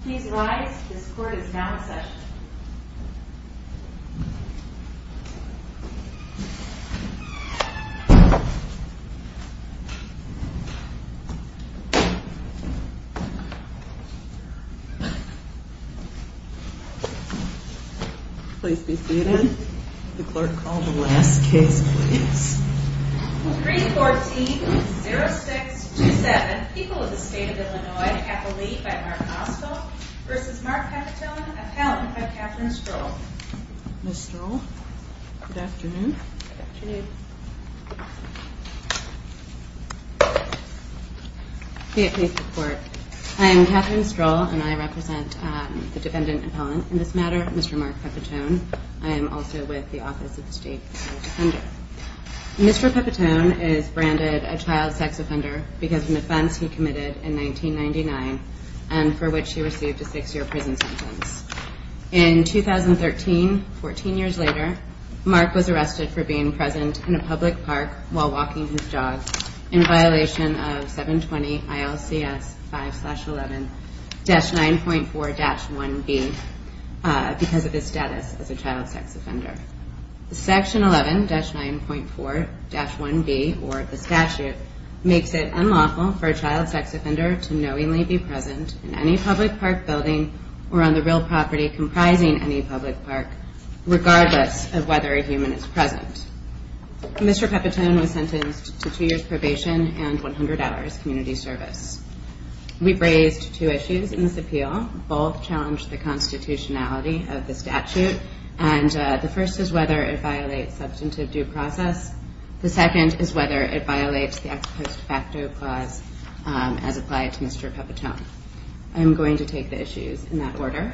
Please rise. This court is now in session. Please be seated. The clerk, call the last case, please. 314-0627. People of the State of Illinois. Kathleen, by Mark Ossoff, v. Mark Pepitone, appellant by Kathryn Stroll. Ms. Stroll, good afternoon. Good afternoon. Please report. I am Kathryn Stroll, and I represent the defendant appellant in this matter, Mr. Mark Pepitone. I am also with the Office of the State Defender. Mr. Pepitone is branded a child sex offender because of an offense he committed in 1999, and for which he received a six-year prison sentence. In 2013, 14 years later, Mark was arrested for being present in a public park while walking his dog in violation of 720-ILCS 5-11-9.4-1B because of his status as a child sex offender. Section 11-9.4-1B, or the statute, makes it unlawful for a child sex offender to knowingly be present in any public park building or on the real property comprising any public park, regardless of whether a human is present. Mr. Pepitone was sentenced to two years probation and 100 hours community service. We raised two issues in this appeal. Both challenged the constitutionality of the statute, and the first is whether it violates substantive due process. The second is whether it violates the ex post facto clause as applied to Mr. Pepitone. I am going to take the issues in that order.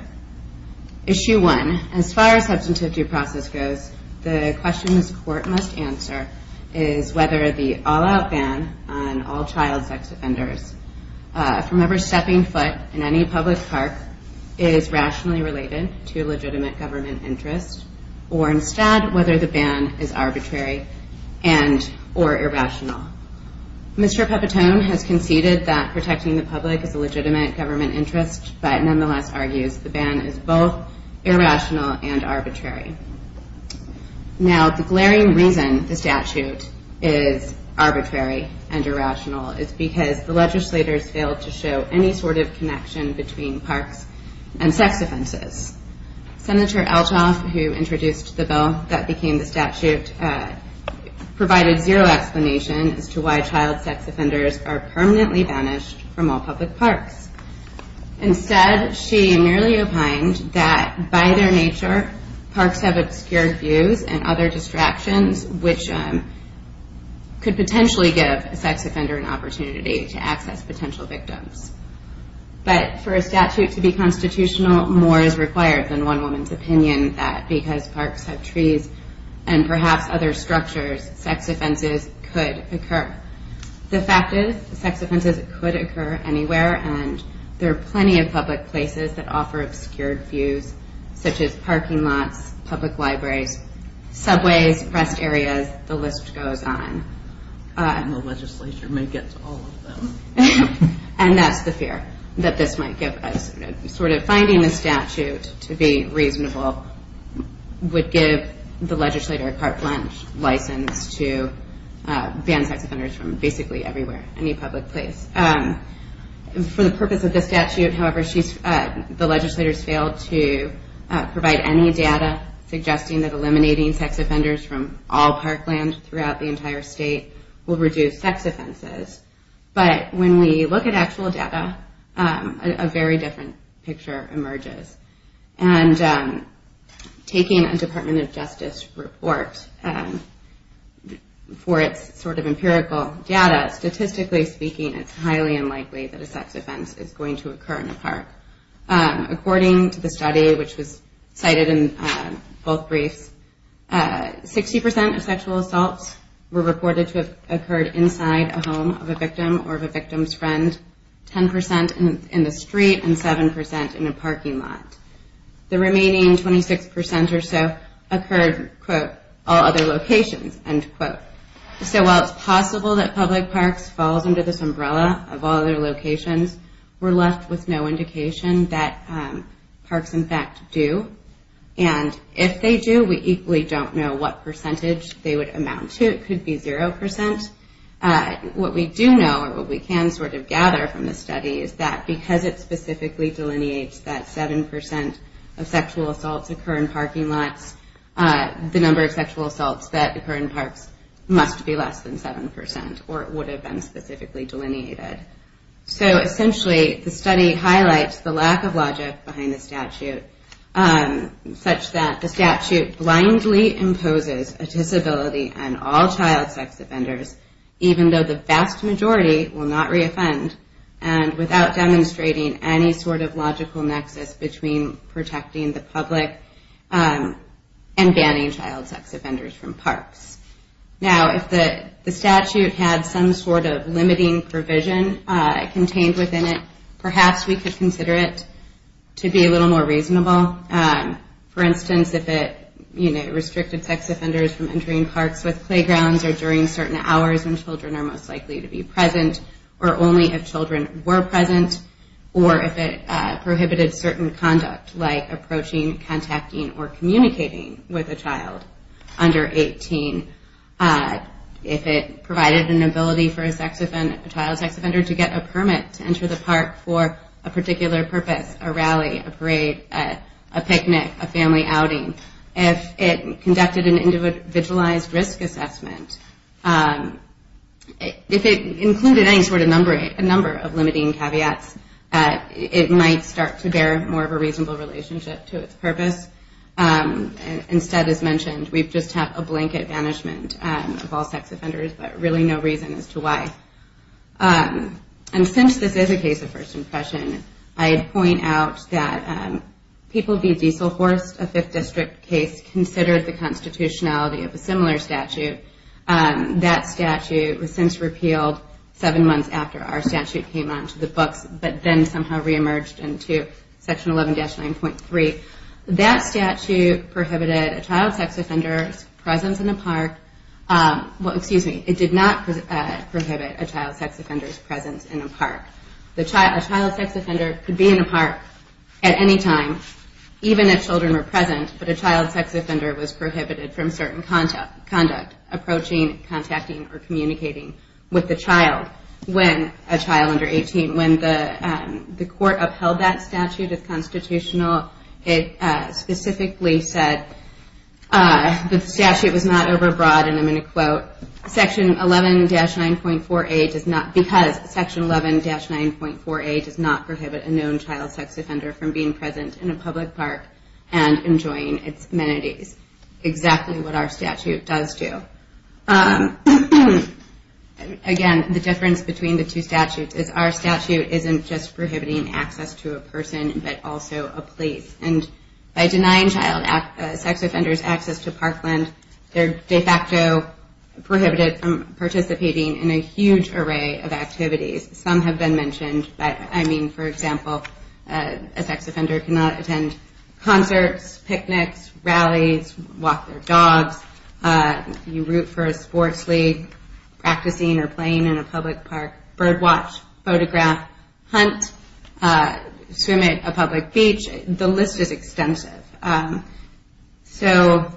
Issue one, as far as substantive due process goes, the question this court must answer is whether the all-out ban on all child sex offenders from ever stepping foot in any public park is rationally related to legitimate government interest, or instead whether the ban is arbitrary and or irrational. Mr. Pepitone has conceded that protecting the public is a legitimate government interest, but nonetheless argues the ban is both irrational and arbitrary. Now, the glaring reason the statute is arbitrary and irrational is because the legislators failed to show any sort of connection between parks and sex offenses. Senator Althoff, who introduced the bill that became the statute, provided zero explanation as to why child sex offenders are permanently banished from all public parks. Instead, she merely opined that by their nature, parks have obscured views and other distractions, which could potentially give a sex offender an opportunity to access potential victims. But for a statute to be constitutional, more is required than one woman's opinion that because parks have trees and perhaps other structures, sex offenses could occur. The fact is, sex offenses could occur anywhere, and there are plenty of public places that offer obscured views, such as parking lots, public libraries, subways, rest areas, the list goes on. And the legislature may get to all of them. And that's the fear that this might give us. Sort of finding a statute to be reasonable would give the legislator a carte blanche license to ban sex offenders from basically everywhere, any public place. For the purpose of this statute, however, the legislators failed to provide any data suggesting that eliminating sex offenders from all parkland throughout the entire state will reduce sex offenses. But when we look at actual data, a very different picture emerges. And taking a Department of Justice report for its sort of empirical data, statistically speaking, it's highly unlikely that a sex offense is going to occur in a park. According to the study, which was cited in both briefs, 60% of sexual assaults were reported to have occurred inside a home of a victim or of a victim's friend, 10% in the street, and 7% in a parking lot. The remaining 26% or so occurred, quote, all other locations, end quote. So while it's possible that public parks falls under this umbrella of all other locations, we're left with no indication that parks, in fact, do. And if they do, we equally don't know what percentage they would amount to. It could be 0%. What we do know, or what we can sort of gather from the study, is that because it specifically delineates that 7% of sexual assaults occur in parking lots, the number of sexual assaults that occur in parks must be less than 7%, or it would have been specifically delineated. So essentially, the study highlights the lack of logic behind the statute, such that the statute blindly imposes a disability on all child sex offenders, even though the vast majority will not reoffend, and without demonstrating any sort of logical nexus between protecting the public and banning child sex offenders from parks. Now, if the statute had some sort of limiting provision contained within it, perhaps we could consider it to be a little more reasonable. For instance, if it restricted sex offenders from entering parks with playgrounds or during certain hours when children are most likely to be present, or only if children were present, or if it prohibited certain conduct, like approaching, contacting, or communicating with a child under 18. If it provided an ability for a child sex offender to get a permit to enter the park for a particular purpose, a rally, a parade, a picnic, a family outing. If it conducted an individualized risk assessment, if it included any sort of number of limiting caveats, it might start to bear more of a reasonable relationship to its purpose. Instead, as mentioned, we've just had a blanket banishment of all sex offenders, but really no reason as to why. And since this is a case of first impression, I'd point out that people v. Dieselhorst, a Fifth District case, considered the constitutionality of a similar statute. That statute was since repealed seven months after our statute came onto the books, but then somehow reemerged into Section 11-9.3. That statute prohibited a child sex offender's presence in a park. Well, excuse me, it did not prohibit a child sex offender's presence in a park. A child sex offender could be in a park at any time, even if children were present, but a child sex offender was prohibited from certain conduct, approaching, contacting, or communicating with a child under 18. When the court upheld that statute as constitutional, it specifically said that the statute was not overbroad, and I'm going to quote, because Section 11-9.4a does not prohibit a known child sex offender from being present in a public park and enjoying its amenities. Exactly what our statute does do. Again, the difference between the two statutes is our statute isn't just prohibiting access to a person, but also a place. And by denying child sex offenders access to parkland, they're de facto prohibited from participating in a huge array of activities. Some have been mentioned, but I mean, for example, a sex offender cannot attend concerts, picnics, rallies, walk their dogs, you root for a sports league, practicing or playing in a public park, bird watch, photograph, hunt, swim at a public beach. The list is extensive. So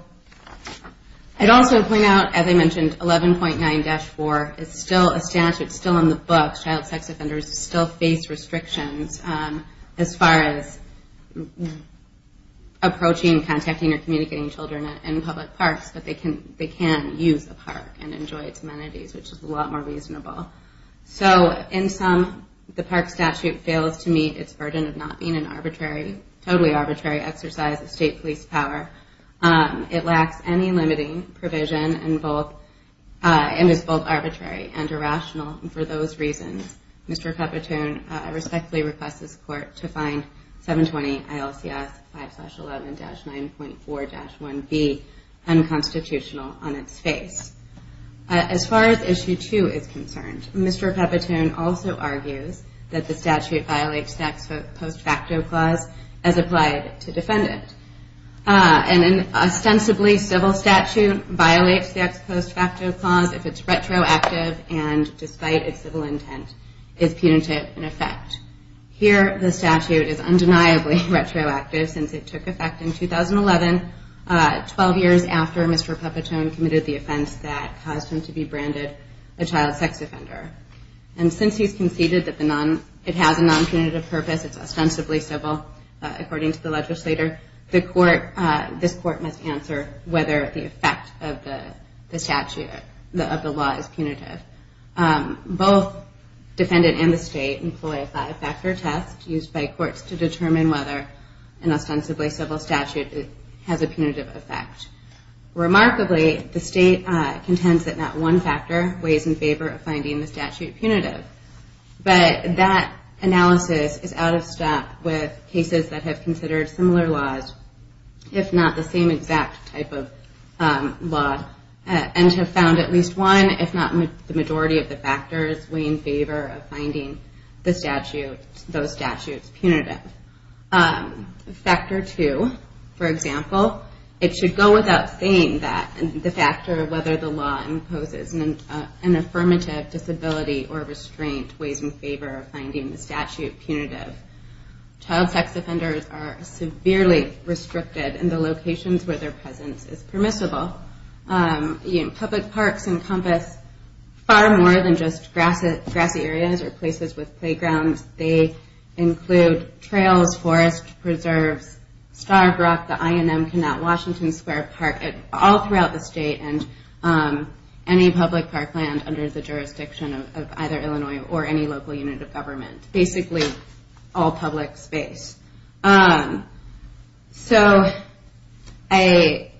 I'd also point out, as I mentioned, 11.9-4 is still a statute, it's still in the books, child sex offenders still face restrictions as far as approaching, contacting, or communicating children in public parks. But they can use a park and enjoy its amenities, which is a lot more reasonable. So in sum, the park statute fails to meet its burden of not being a totally arbitrary exercise of state police power. It lacks any limiting provision and is both arbitrary and irrational. And for those reasons, Mr. Capitone, I respectfully request this court to find 720-ILCS 5-11-9.4-1B unconstitutional on its face. As far as issue two is concerned, Mr. Capitone also argues that the statute violates the ex post facto clause as applied to defendant. An ostensibly civil statute violates the ex post facto clause if it's retroactive and despite its civil intent, is punitive in effect. Here, the statute is undeniably retroactive since it took effect in 2011, 12 years after Mr. Capitone committed the offense that caused him to be branded a child sex offender. And since he's conceded that it has a non-punitive purpose, it's ostensibly civil according to the legislator, this court must answer whether the effect of the statute, of the law, is punitive. Both defendant and the state employ a five-factor test used by courts to determine whether an ostensibly civil statute has a punitive effect. Remarkably, the state contends that not one factor weighs in favor of finding the statute punitive. But that analysis is out of step with cases that have considered similar laws, if not the same exact type of law, and have found at least one, if not the majority of the factors, weigh in favor of finding those statutes punitive. Factor two, for example, it should go without saying that the factor of whether the law imposes an affirmative disability or restraint weighs in favor of finding the statute punitive. Child sex offenders are severely restricted in the locations where their presence is permissible. Public parks encompass far more than just grassy areas or places with playgrounds. They include trails, forests, preserves, Starbrook, the I&M Canal, Washington Square Park, all throughout the state, and any public park land under the jurisdiction of either Illinois or any local unit of government. Basically, all public space. So, again,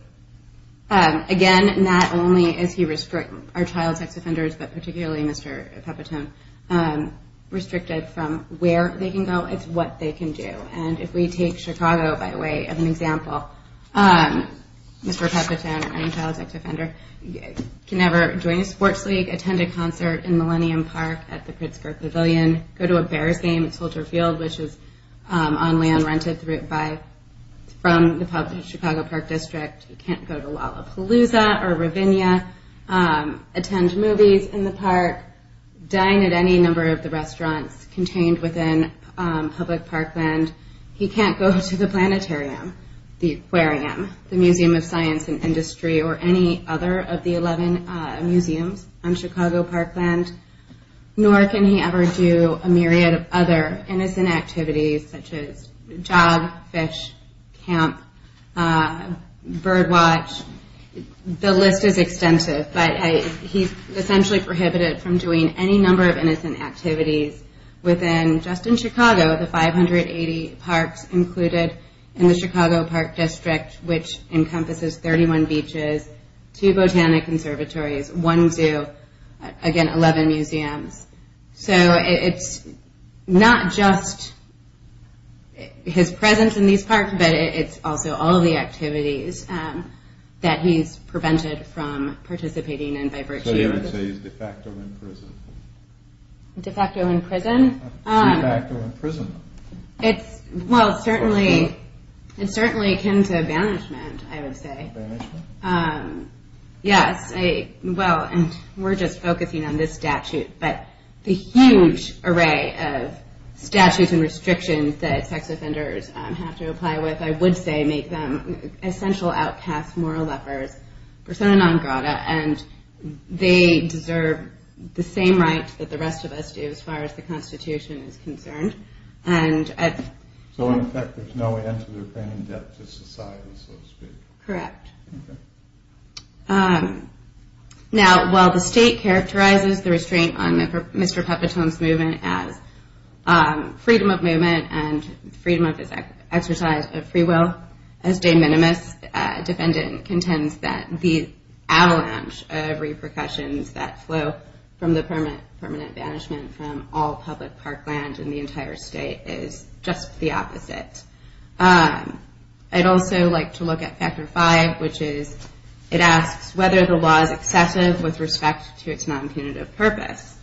not only are child sex offenders, but particularly Mr. Pepitone, restricted from where they can go, it's what they can do. And if we take Chicago by way of an example, Mr. Pepitone, or any child sex offender, can never join a sports league, attend a concert in Millennium Park at the Pittsburgh Pavilion, go to a Bears game at Soldier Field, which is on land rented from the Chicago Park District. He can't go to Lollapalooza or Ravinia, attend movies in the park, dine at any number of the restaurants contained within public park land. He can't go to the planetarium, the aquarium, the Museum of Science and Industry, or any other of the 11 museums on Chicago park land. Nor can he ever do a myriad of other innocent activities, such as jog, fish, camp, bird watch. The list is extensive, but he's essentially prohibited from doing any number of innocent activities within just in Chicago, the 580 parks included in the Chicago Park District, which encompasses 31 beaches, 2 botanic conservatories, 1 zoo, again 11 museums. So it's not just his presence in these parks, but it's also all of the activities that he's prevented from participating in by virtue of the... So you would say he's de facto in prison? De facto in prison? De facto in prison. Well, it's certainly akin to banishment, I would say. Banishment? Yes. Well, we're just focusing on this statute, but the huge array of statutes and restrictions that sex offenders have to apply with, I would say, make them essential outcast moral lepers, persona non grata, and they deserve the same rights that the rest of us do as far as the Constitution is concerned. So in effect, there's no end to their paying debt to society, so to speak. Correct. Now, while the state characterizes the restraint on Mr. Puppetone's movement as freedom of movement and freedom of his exercise of free will as de minimis, a defendant contends that the avalanche of repercussions that flow from the permanent banishment is just the opposite. I'd also like to look at Factor 5, which is it asks whether the law is excessive with respect to its non-punitive purpose.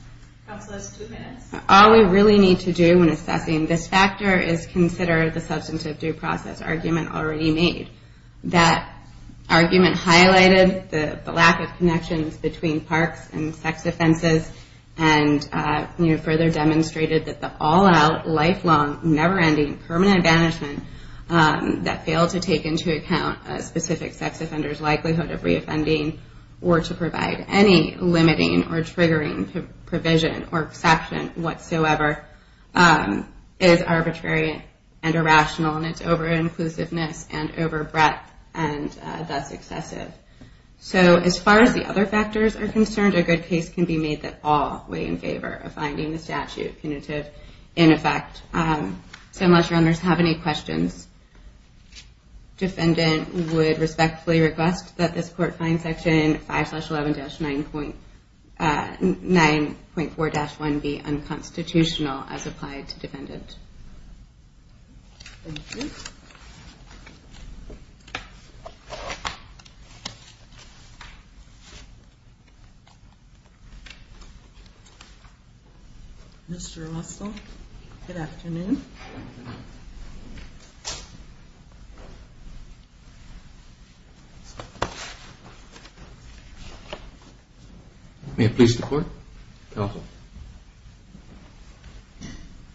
Counselors, two minutes. All we really need to do when assessing this factor is consider the substantive due process argument already made. That argument highlighted the lack of connections between parks and sex offenses and further demonstrated that the all-out, lifelong, never-ending permanent banishment that failed to take into account a specific sex offender's likelihood of reoffending or to provide any limiting or triggering provision or exception whatsoever is arbitrary and irrational in its over-inclusiveness and over-breath and thus excessive. So as far as the other factors are concerned, a good case can be made that all weigh in favor of finding the statute punitive in effect. So unless your owners have any questions, defendant would respectfully request that this Court find Section 5-11-9.4-1 be unconstitutional as applied to defendant. Thank you. Mr. Russell, good afternoon. May it please the Court? Counsel.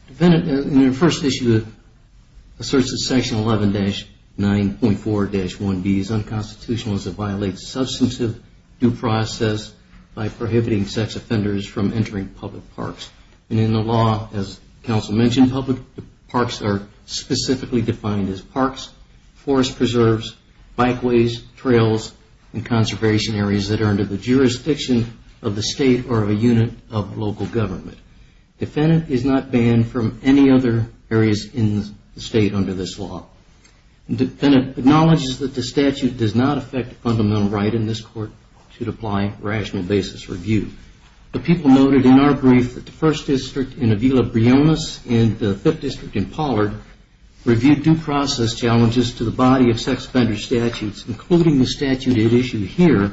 Defendant, in your first issue, it asserts that Section 11-9.4-1b is unconstitutional as it violates substantive due process by prohibiting sex offenders from entering public parks. And in the law, as counsel mentioned, public parks are specifically defined as parks, forest preserves, bikeways, trails, and conservation areas that are under the jurisdiction of the State or a unit of local government. Defendant is not banned from any other areas in the State under this law. does not affect the fundamental right in this Court to apply rational basis review. The people noted in our brief that the First District in Avila-Briones and the Fifth District in Pollard reviewed due process challenges to the body of sex offender statutes, including the statute at issue here,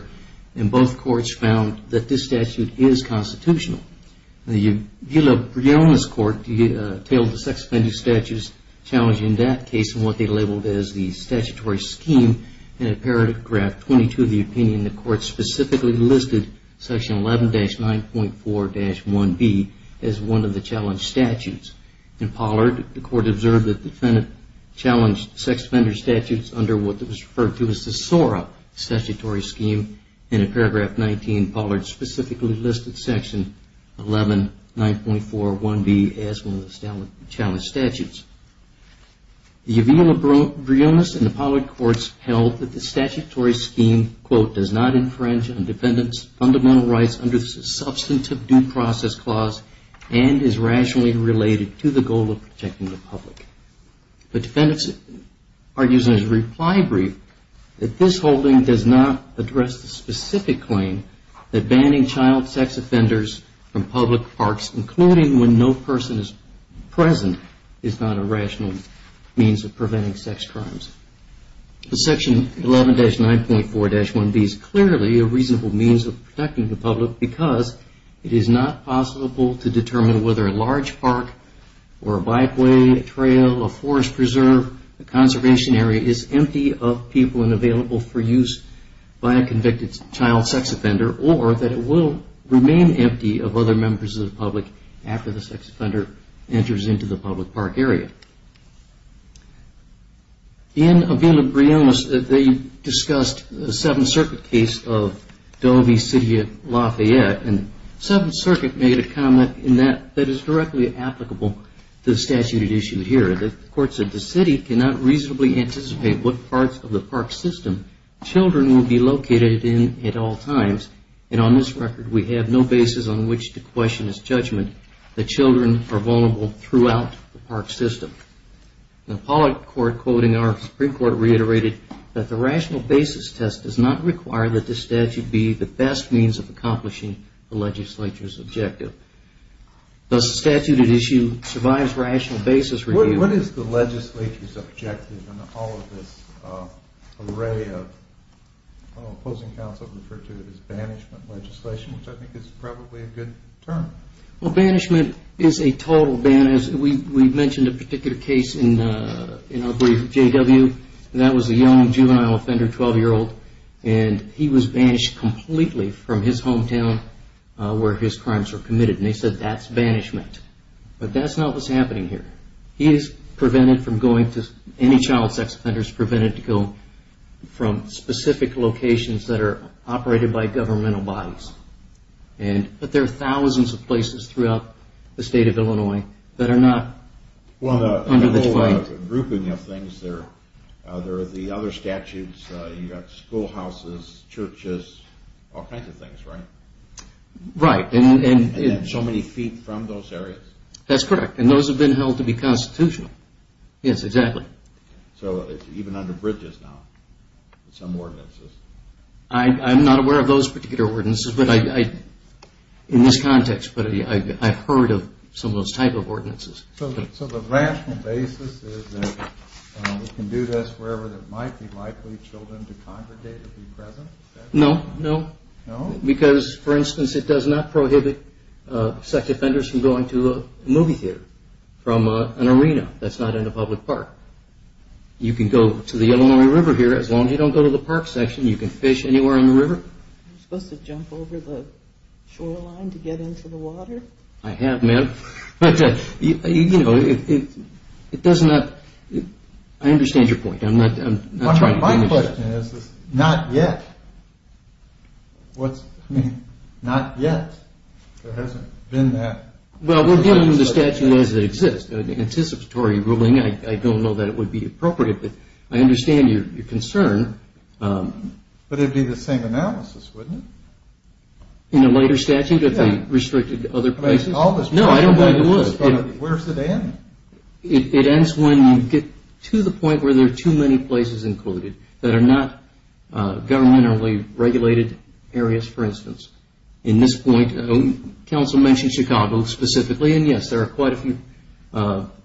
and both Courts found that this statute is constitutional. The Avila-Briones Court detailed the sex offender statutes challenging that case and what they labeled as the statutory scheme and in paragraph 22 of the opinion, the Court specifically listed section 11-9.4-1b as one of the challenged statutes. In Pollard, the Court observed that the defendant challenged sex offender statutes under what was referred to as the SORA statutory scheme and in paragraph 19, Pollard specifically listed section 11-9.4-1b as one of the challenged statutes. The Avila-Briones and Pollard Courts held that the statutory scheme does not infringe on defendants' fundamental rights under the substantive due process clause and is rationally related to the goal of protecting the public. The defendants argues in a reply brief that this holding does not address the specific claim that banning child sex offenders from public parks, including when no person is present, is not a rational means of preventing sex crimes. Section 11-9.4-1b is clearly a reasonable means of protecting the public because it is not possible to determine whether a large park or a bikeway, a trail, a forest preserve, a conservation area is empty of people and available for use by a convicted child sex offender or that it will remain empty of other members of the public after the sex offender enters into the public park area. In Avila-Briones, they discussed the Seventh Circuit case of Dovey City at Lafayette and Seventh Circuit made a comment that is directly applicable to the statute issued here. The court said the city cannot reasonably anticipate what parts of the park system children will be located in at all times and on this record we have no basis on which to question this judgment that children are vulnerable throughout the park system. The appellate court quoting our Supreme Court reiterated that the rational basis test does not require that this statute be the best means of accomplishing the legislature's objective. Does the statute at issue survive rational basis review? What is the legislature's objective in all of this array of opposing counsel referred to as banishment legislation, which I think is probably a good term. Well, banishment is a total ban. We mentioned a particular case in our brief, J.W. That was a young juvenile offender, 12-year-old and he was banished completely from his hometown where his crimes were committed and they said that's banishment. But that's not what's happening here. He is prevented from going to any child sex offenders prevented to go from specific locations that are operated by governmental bodies. But there are thousands of places throughout the state of Illinois that are not under the Well, the whole grouping of things there are the other statutes, you've got school houses, churches, all kinds of things, right? And so many feet from those areas? That's correct. And those have been held to be constitutional. Yes, exactly. So even under bridges now, some ordinances? I'm not aware of those particular ordinances in this context, but I've heard of some of those type of ordinances. So the rational basis is that we can do this wherever there might be likely children to congregate No, no. Because, for instance, it does not prohibit sex offenders from going to a movie theater from an arena that's not in a public park. You can go to the Illinois River here as long as you don't go to the park section you can fish anywhere in the river. You're supposed to jump over the shoreline to get into the water? I have, ma'am. But, you know, it doesn't have... I understand your point. My question is, not yet. What do you mean, not yet? There hasn't been that... Well, we're dealing with a statute as it exists, an anticipatory ruling. I don't know that it would be appropriate, but I understand your concern. But it would be the same analysis, wouldn't it? In a later statute? No, I don't believe it would. Where does it end? It ends when you get to the point where there are too many places included that are not governmentally regulated areas, for instance. In this point, counsel mentioned Chicago specifically, and yes, there are quite a few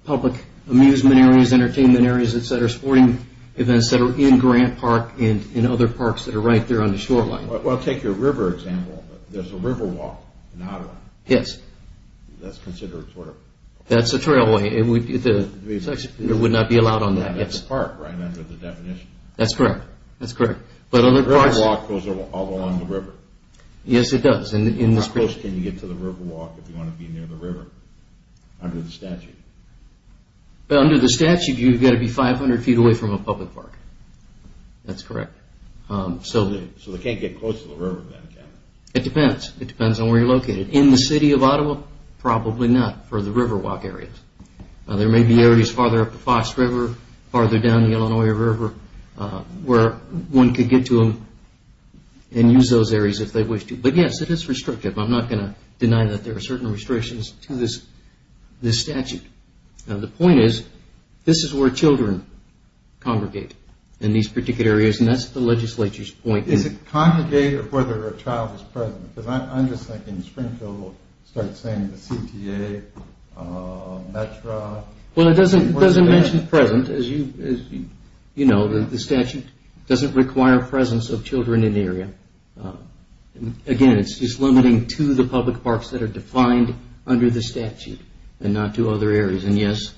public amusement areas, entertainment areas, etc., sporting events that are in Grant Park and other parks that are right there on the shoreline. Well, take your river example. There's a riverwalk in Ottawa. Yes. That's considered sort of... That's a trailway. It would not be allowed on that, yes. That's a park right under the definition. That's correct. Riverwalk goes all along the river. Yes, it does. How close can you get to the riverwalk if you want to be near the river under the statute? Under the statute, you've got to be 500 feet away from a public park. That's correct. So they can't get close to the river then, can they? It depends. It depends on where you're located. In the city of Ottawa, probably not for the riverwalk areas. There may be areas farther up the Fox River, farther down the Illinois River where one could get to them and use those areas if they wish to. But yes, it is restrictive. I'm not going to deny that there are certain restrictions to this statute. Now, the point is, this is where children congregate in these particular areas, and that's the legislature's point. Is it congregate or whether a child is present? Because I'm just thinking Springfield will start saying the CTA, METRA... Well, it doesn't mention present. As you know, the statute doesn't require presence of children in an area. Again, it's limiting to the public parks that are defined under the statute and not to other areas. And yes,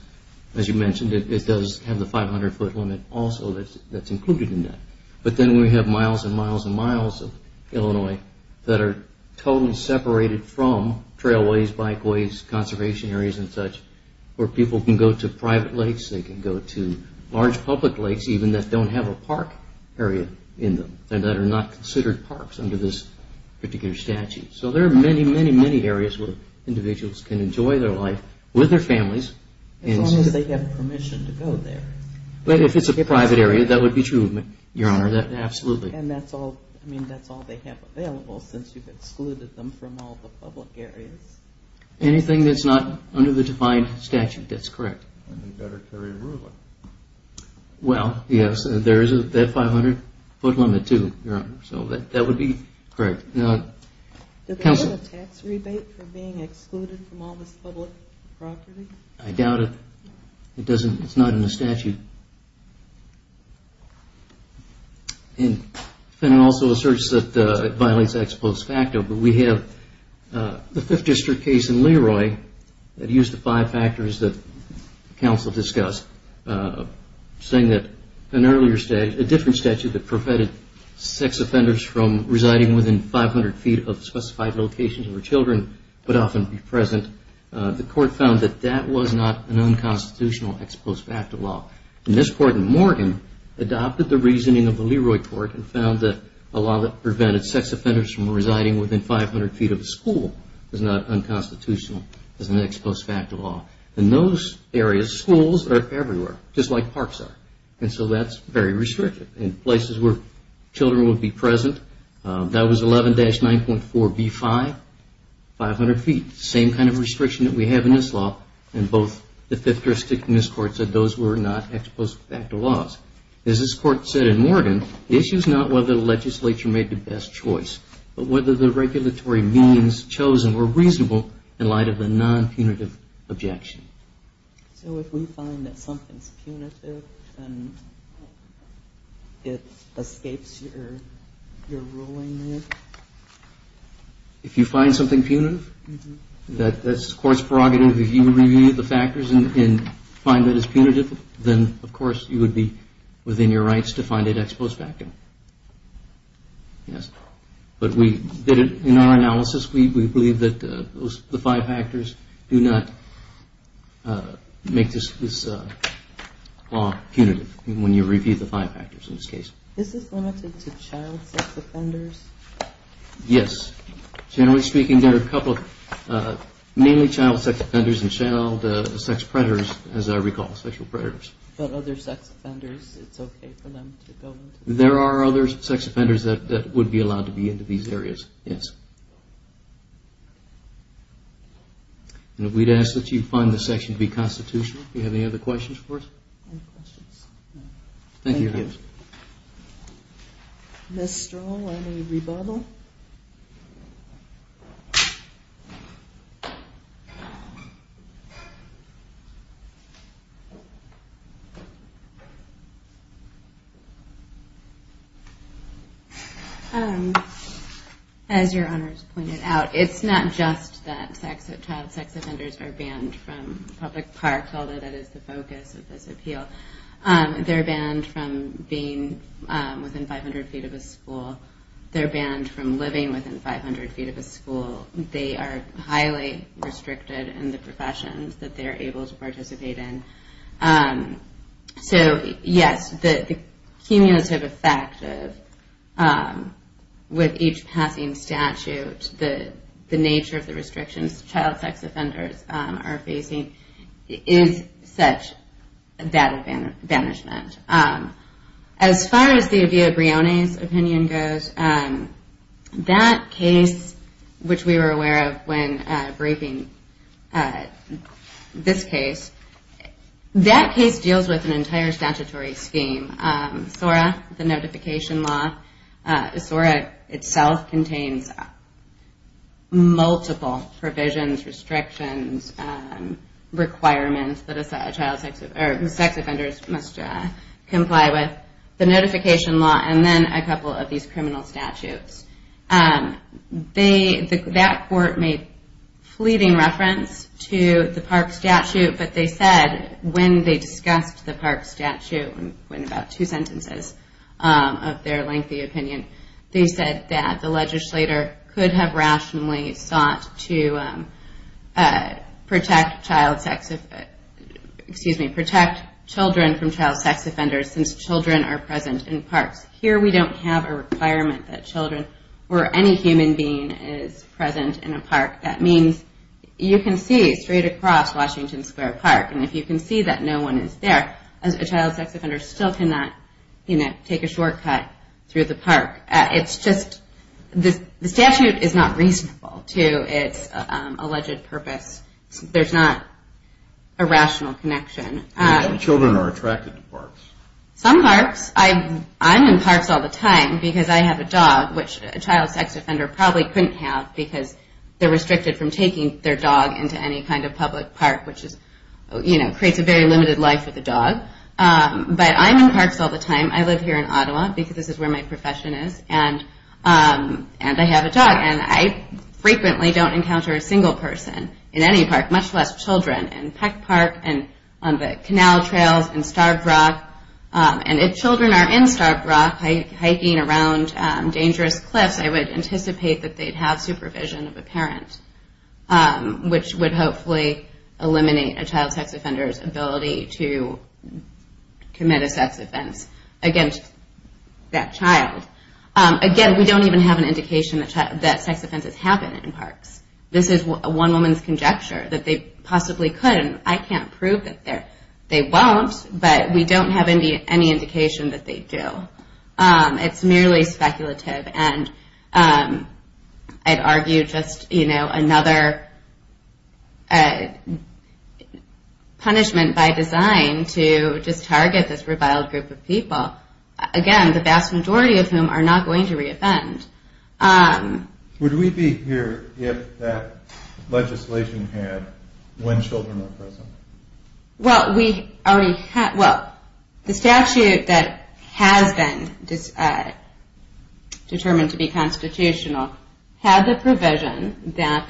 as you mentioned, it does have the 500-foot limit also that's included in that. But then we have miles and miles and miles of Illinois that are totally separated from trailways, bikeways, conservation areas and such, where people can go to private lakes, they can go to large public lakes even, that don't have a park area in them and that are not considered parks under this particular statute. So there are many, many, many areas where individuals can enjoy their life with their families. As long as they have permission to go there. If it's a private area, that would be true, Your Honor, absolutely. And that's all they have available since you've excluded them from all the public areas. Anything that's not under the defined statute, that's correct. And they better carry a ruling. Well, yes, there is a 500-foot limit too, Your Honor. So that would be correct. Does it have a tax rebate for being excluded from all this public property? I doubt it. It's not in the statute. And it also asserts that it violates ex post facto, but we have the 5th District case in Leroy that used the five factors that counsel discussed, saying that an earlier statute, a different statute that prevented sex offenders from residing within 500 feet of specified locations where children would often be present, the court found that that was not an unconstitutional ex post facto law. And this court in Morgan adopted the reasoning of the Leroy court and found that a law that prevented sex offenders from residing within 500 feet of a school is not unconstitutional as an ex post facto law. In those areas, schools are everywhere, just like parks are. And so that's very restrictive. In places where children would be present, that was 11-9.4b5, 500 feet. Same kind of restriction that we have in this law. And both the 5th District and this court said those were not ex post facto laws. As this court said in Morgan, the issue is not whether the legislature made the best choice, but whether the regulatory means chosen were reasonable in light of a non-punitive objection. So if we find that something is punitive, then it escapes your ruling there? If you find something punitive, that's the court's prerogative. If you review the factors and find that it's punitive, then of course you would be within your rights to find it ex post facto. But in our analysis, we believe that the five factors do not make this law punitive when you review the five factors in this case. Is this limited to child sex offenders? Yes. Generally speaking, there are mainly child sex offenders and child sex predators, as I recall. But other sex offenders? There are other sex offenders that would be allowed to be into these areas, yes. And we'd ask that you find this section to be constitutional. Do you have any other questions for us? Thank you. Ms. Stroh, any rebuttal? As your Honor has pointed out, it's not just that child sex offenders are banned from public parks, although that is the focus of this appeal. They're banned from being within 500 feet of a school. They're banned from living within 500 feet of a school. They're banned from being a child sex offender. So yes, the cumulative effect of each passing statute, the nature of the restrictions child sex offenders are facing, is such a bad advantage. As far as the Avia Brioni's opinion goes, that case, which we were aware of when breaking the law, this case, that case deals with an entire statutory scheme. SORA, the notification law, SORA itself contains multiple provisions, restrictions, requirements that a child sex offender must comply with. The notification law, and then a couple of these criminal statutes. That court made a fleeting reference to the park statute, but they said when they discussed the park statute, in about two sentences of their lengthy opinion, they said that the legislator could have rationally sought to protect children from child sex offenders since children are present in parks. Here we don't have a requirement that children or any human being is present in a park. That means you can see straight across Washington Square Park, and if you can see that no one is there, a child sex offender still cannot take a shortcut through the park. The statute is not reasonable to its alleged purpose. There's not a rational connection. Children are attracted to parks. Some parks, I'm in parks all the time because I have a dog, which a child sex offender probably couldn't have because they're restricted from taking their dog into any kind of public park, which creates a very limited life for the dog. But I'm in parks all the time. I live here in Ottawa because this is where my profession is, and I have a dog. I frequently don't encounter a single person in any park, much less children. I've seen children in Peck Park and on the canal trails in Starved Rock, and if children are in Starved Rock hiking around dangerous cliffs, I would anticipate that they'd have supervision of a parent, which would hopefully eliminate a child sex offender's ability to commit a sex offense against that child. Again, we don't even have an indication that sex offenses happen in parks. This is one woman's conjecture that they possibly could, and I can't prove that they won't, but we don't have any indication that they do. It's merely speculative, and I'd argue just another punishment by design to just target this reviled group of people, again, the vast majority of whom are not going to re-offend. Would we be here if that legislation had when children are present? The statute that has been determined to be constitutional had the provision that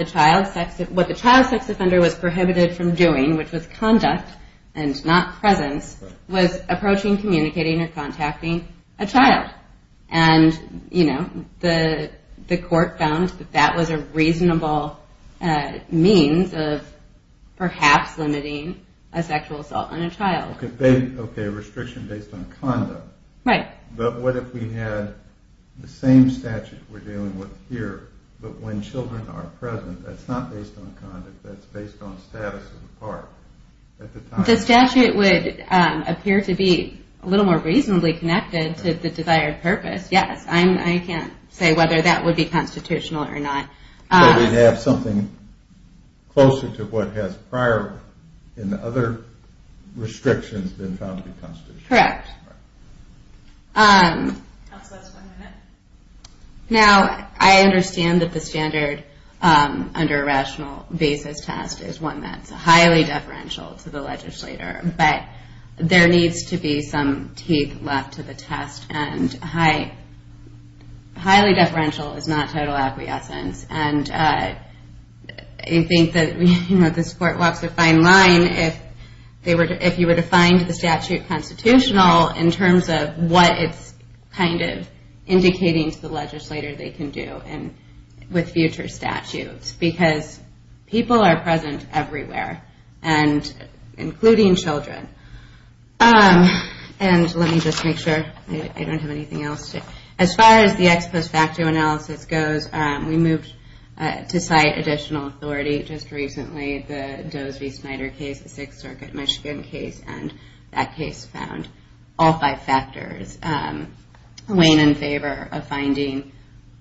what the child sex offender was prohibited from doing, which was conduct and not presence, was approaching, communicating, or contacting a child. The court found that that was a reasonable means of perhaps limiting a sexual assault on a child. Okay, restriction based on conduct. But what if we had the same statute we're dealing with here, but when children are present? That's not based on conduct, that's based on status of the park. The statute would appear to be a little more reasonably connected to the desired purpose. Yes, I can't say whether that would be constitutional or not. We'd have something closer to what has prior and other restrictions been found to be constitutional. Correct. Now, I understand that the standard under a rational basis test is one that's there needs to be some teeth left to the test and highly deferential is not total acquiescence. I think that this court walks a fine line if you were to find the statute constitutional in terms of what it's kind of indicating to the legislator they can do with future statutes. Because people are present everywhere including children. And let me just make sure I don't have anything else to add. As far as the ex post facto analysis goes, we moved to cite additional authority just recently the Doe's v. Snyder case, the Sixth Circuit Michigan case and that case found all five factors weighing in favor of finding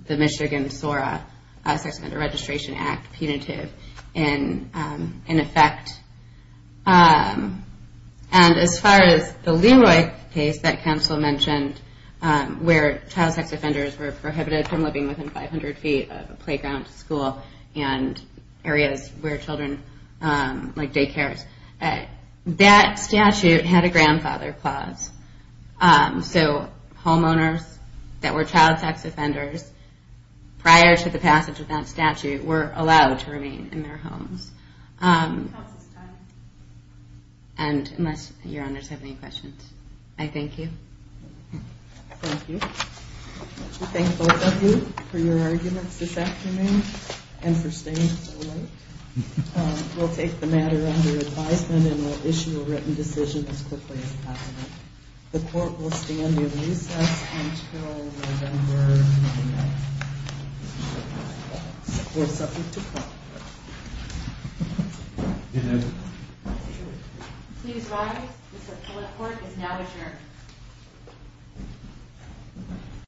the Michigan SORA, Sex Offender Registration Act punitive in effect. And as far as the Leroy case that counsel mentioned where child sex offenders were prohibited from living within 500 feet of a playground school and areas where children, like daycares that statute had a grandfather clause so homeowners that were child sex offenders prior to the passage of that statute were allowed to remain in their homes. And unless your honors have any questions I thank you. Thank you. We thank both of you for your arguments this afternoon and for staying so late. We'll take the matter under advisement and we'll issue a written decision as quickly as possible. The court will stand in recess until November 9th. We're subject to call. Please rise. Mr. Follett Court is now adjourned.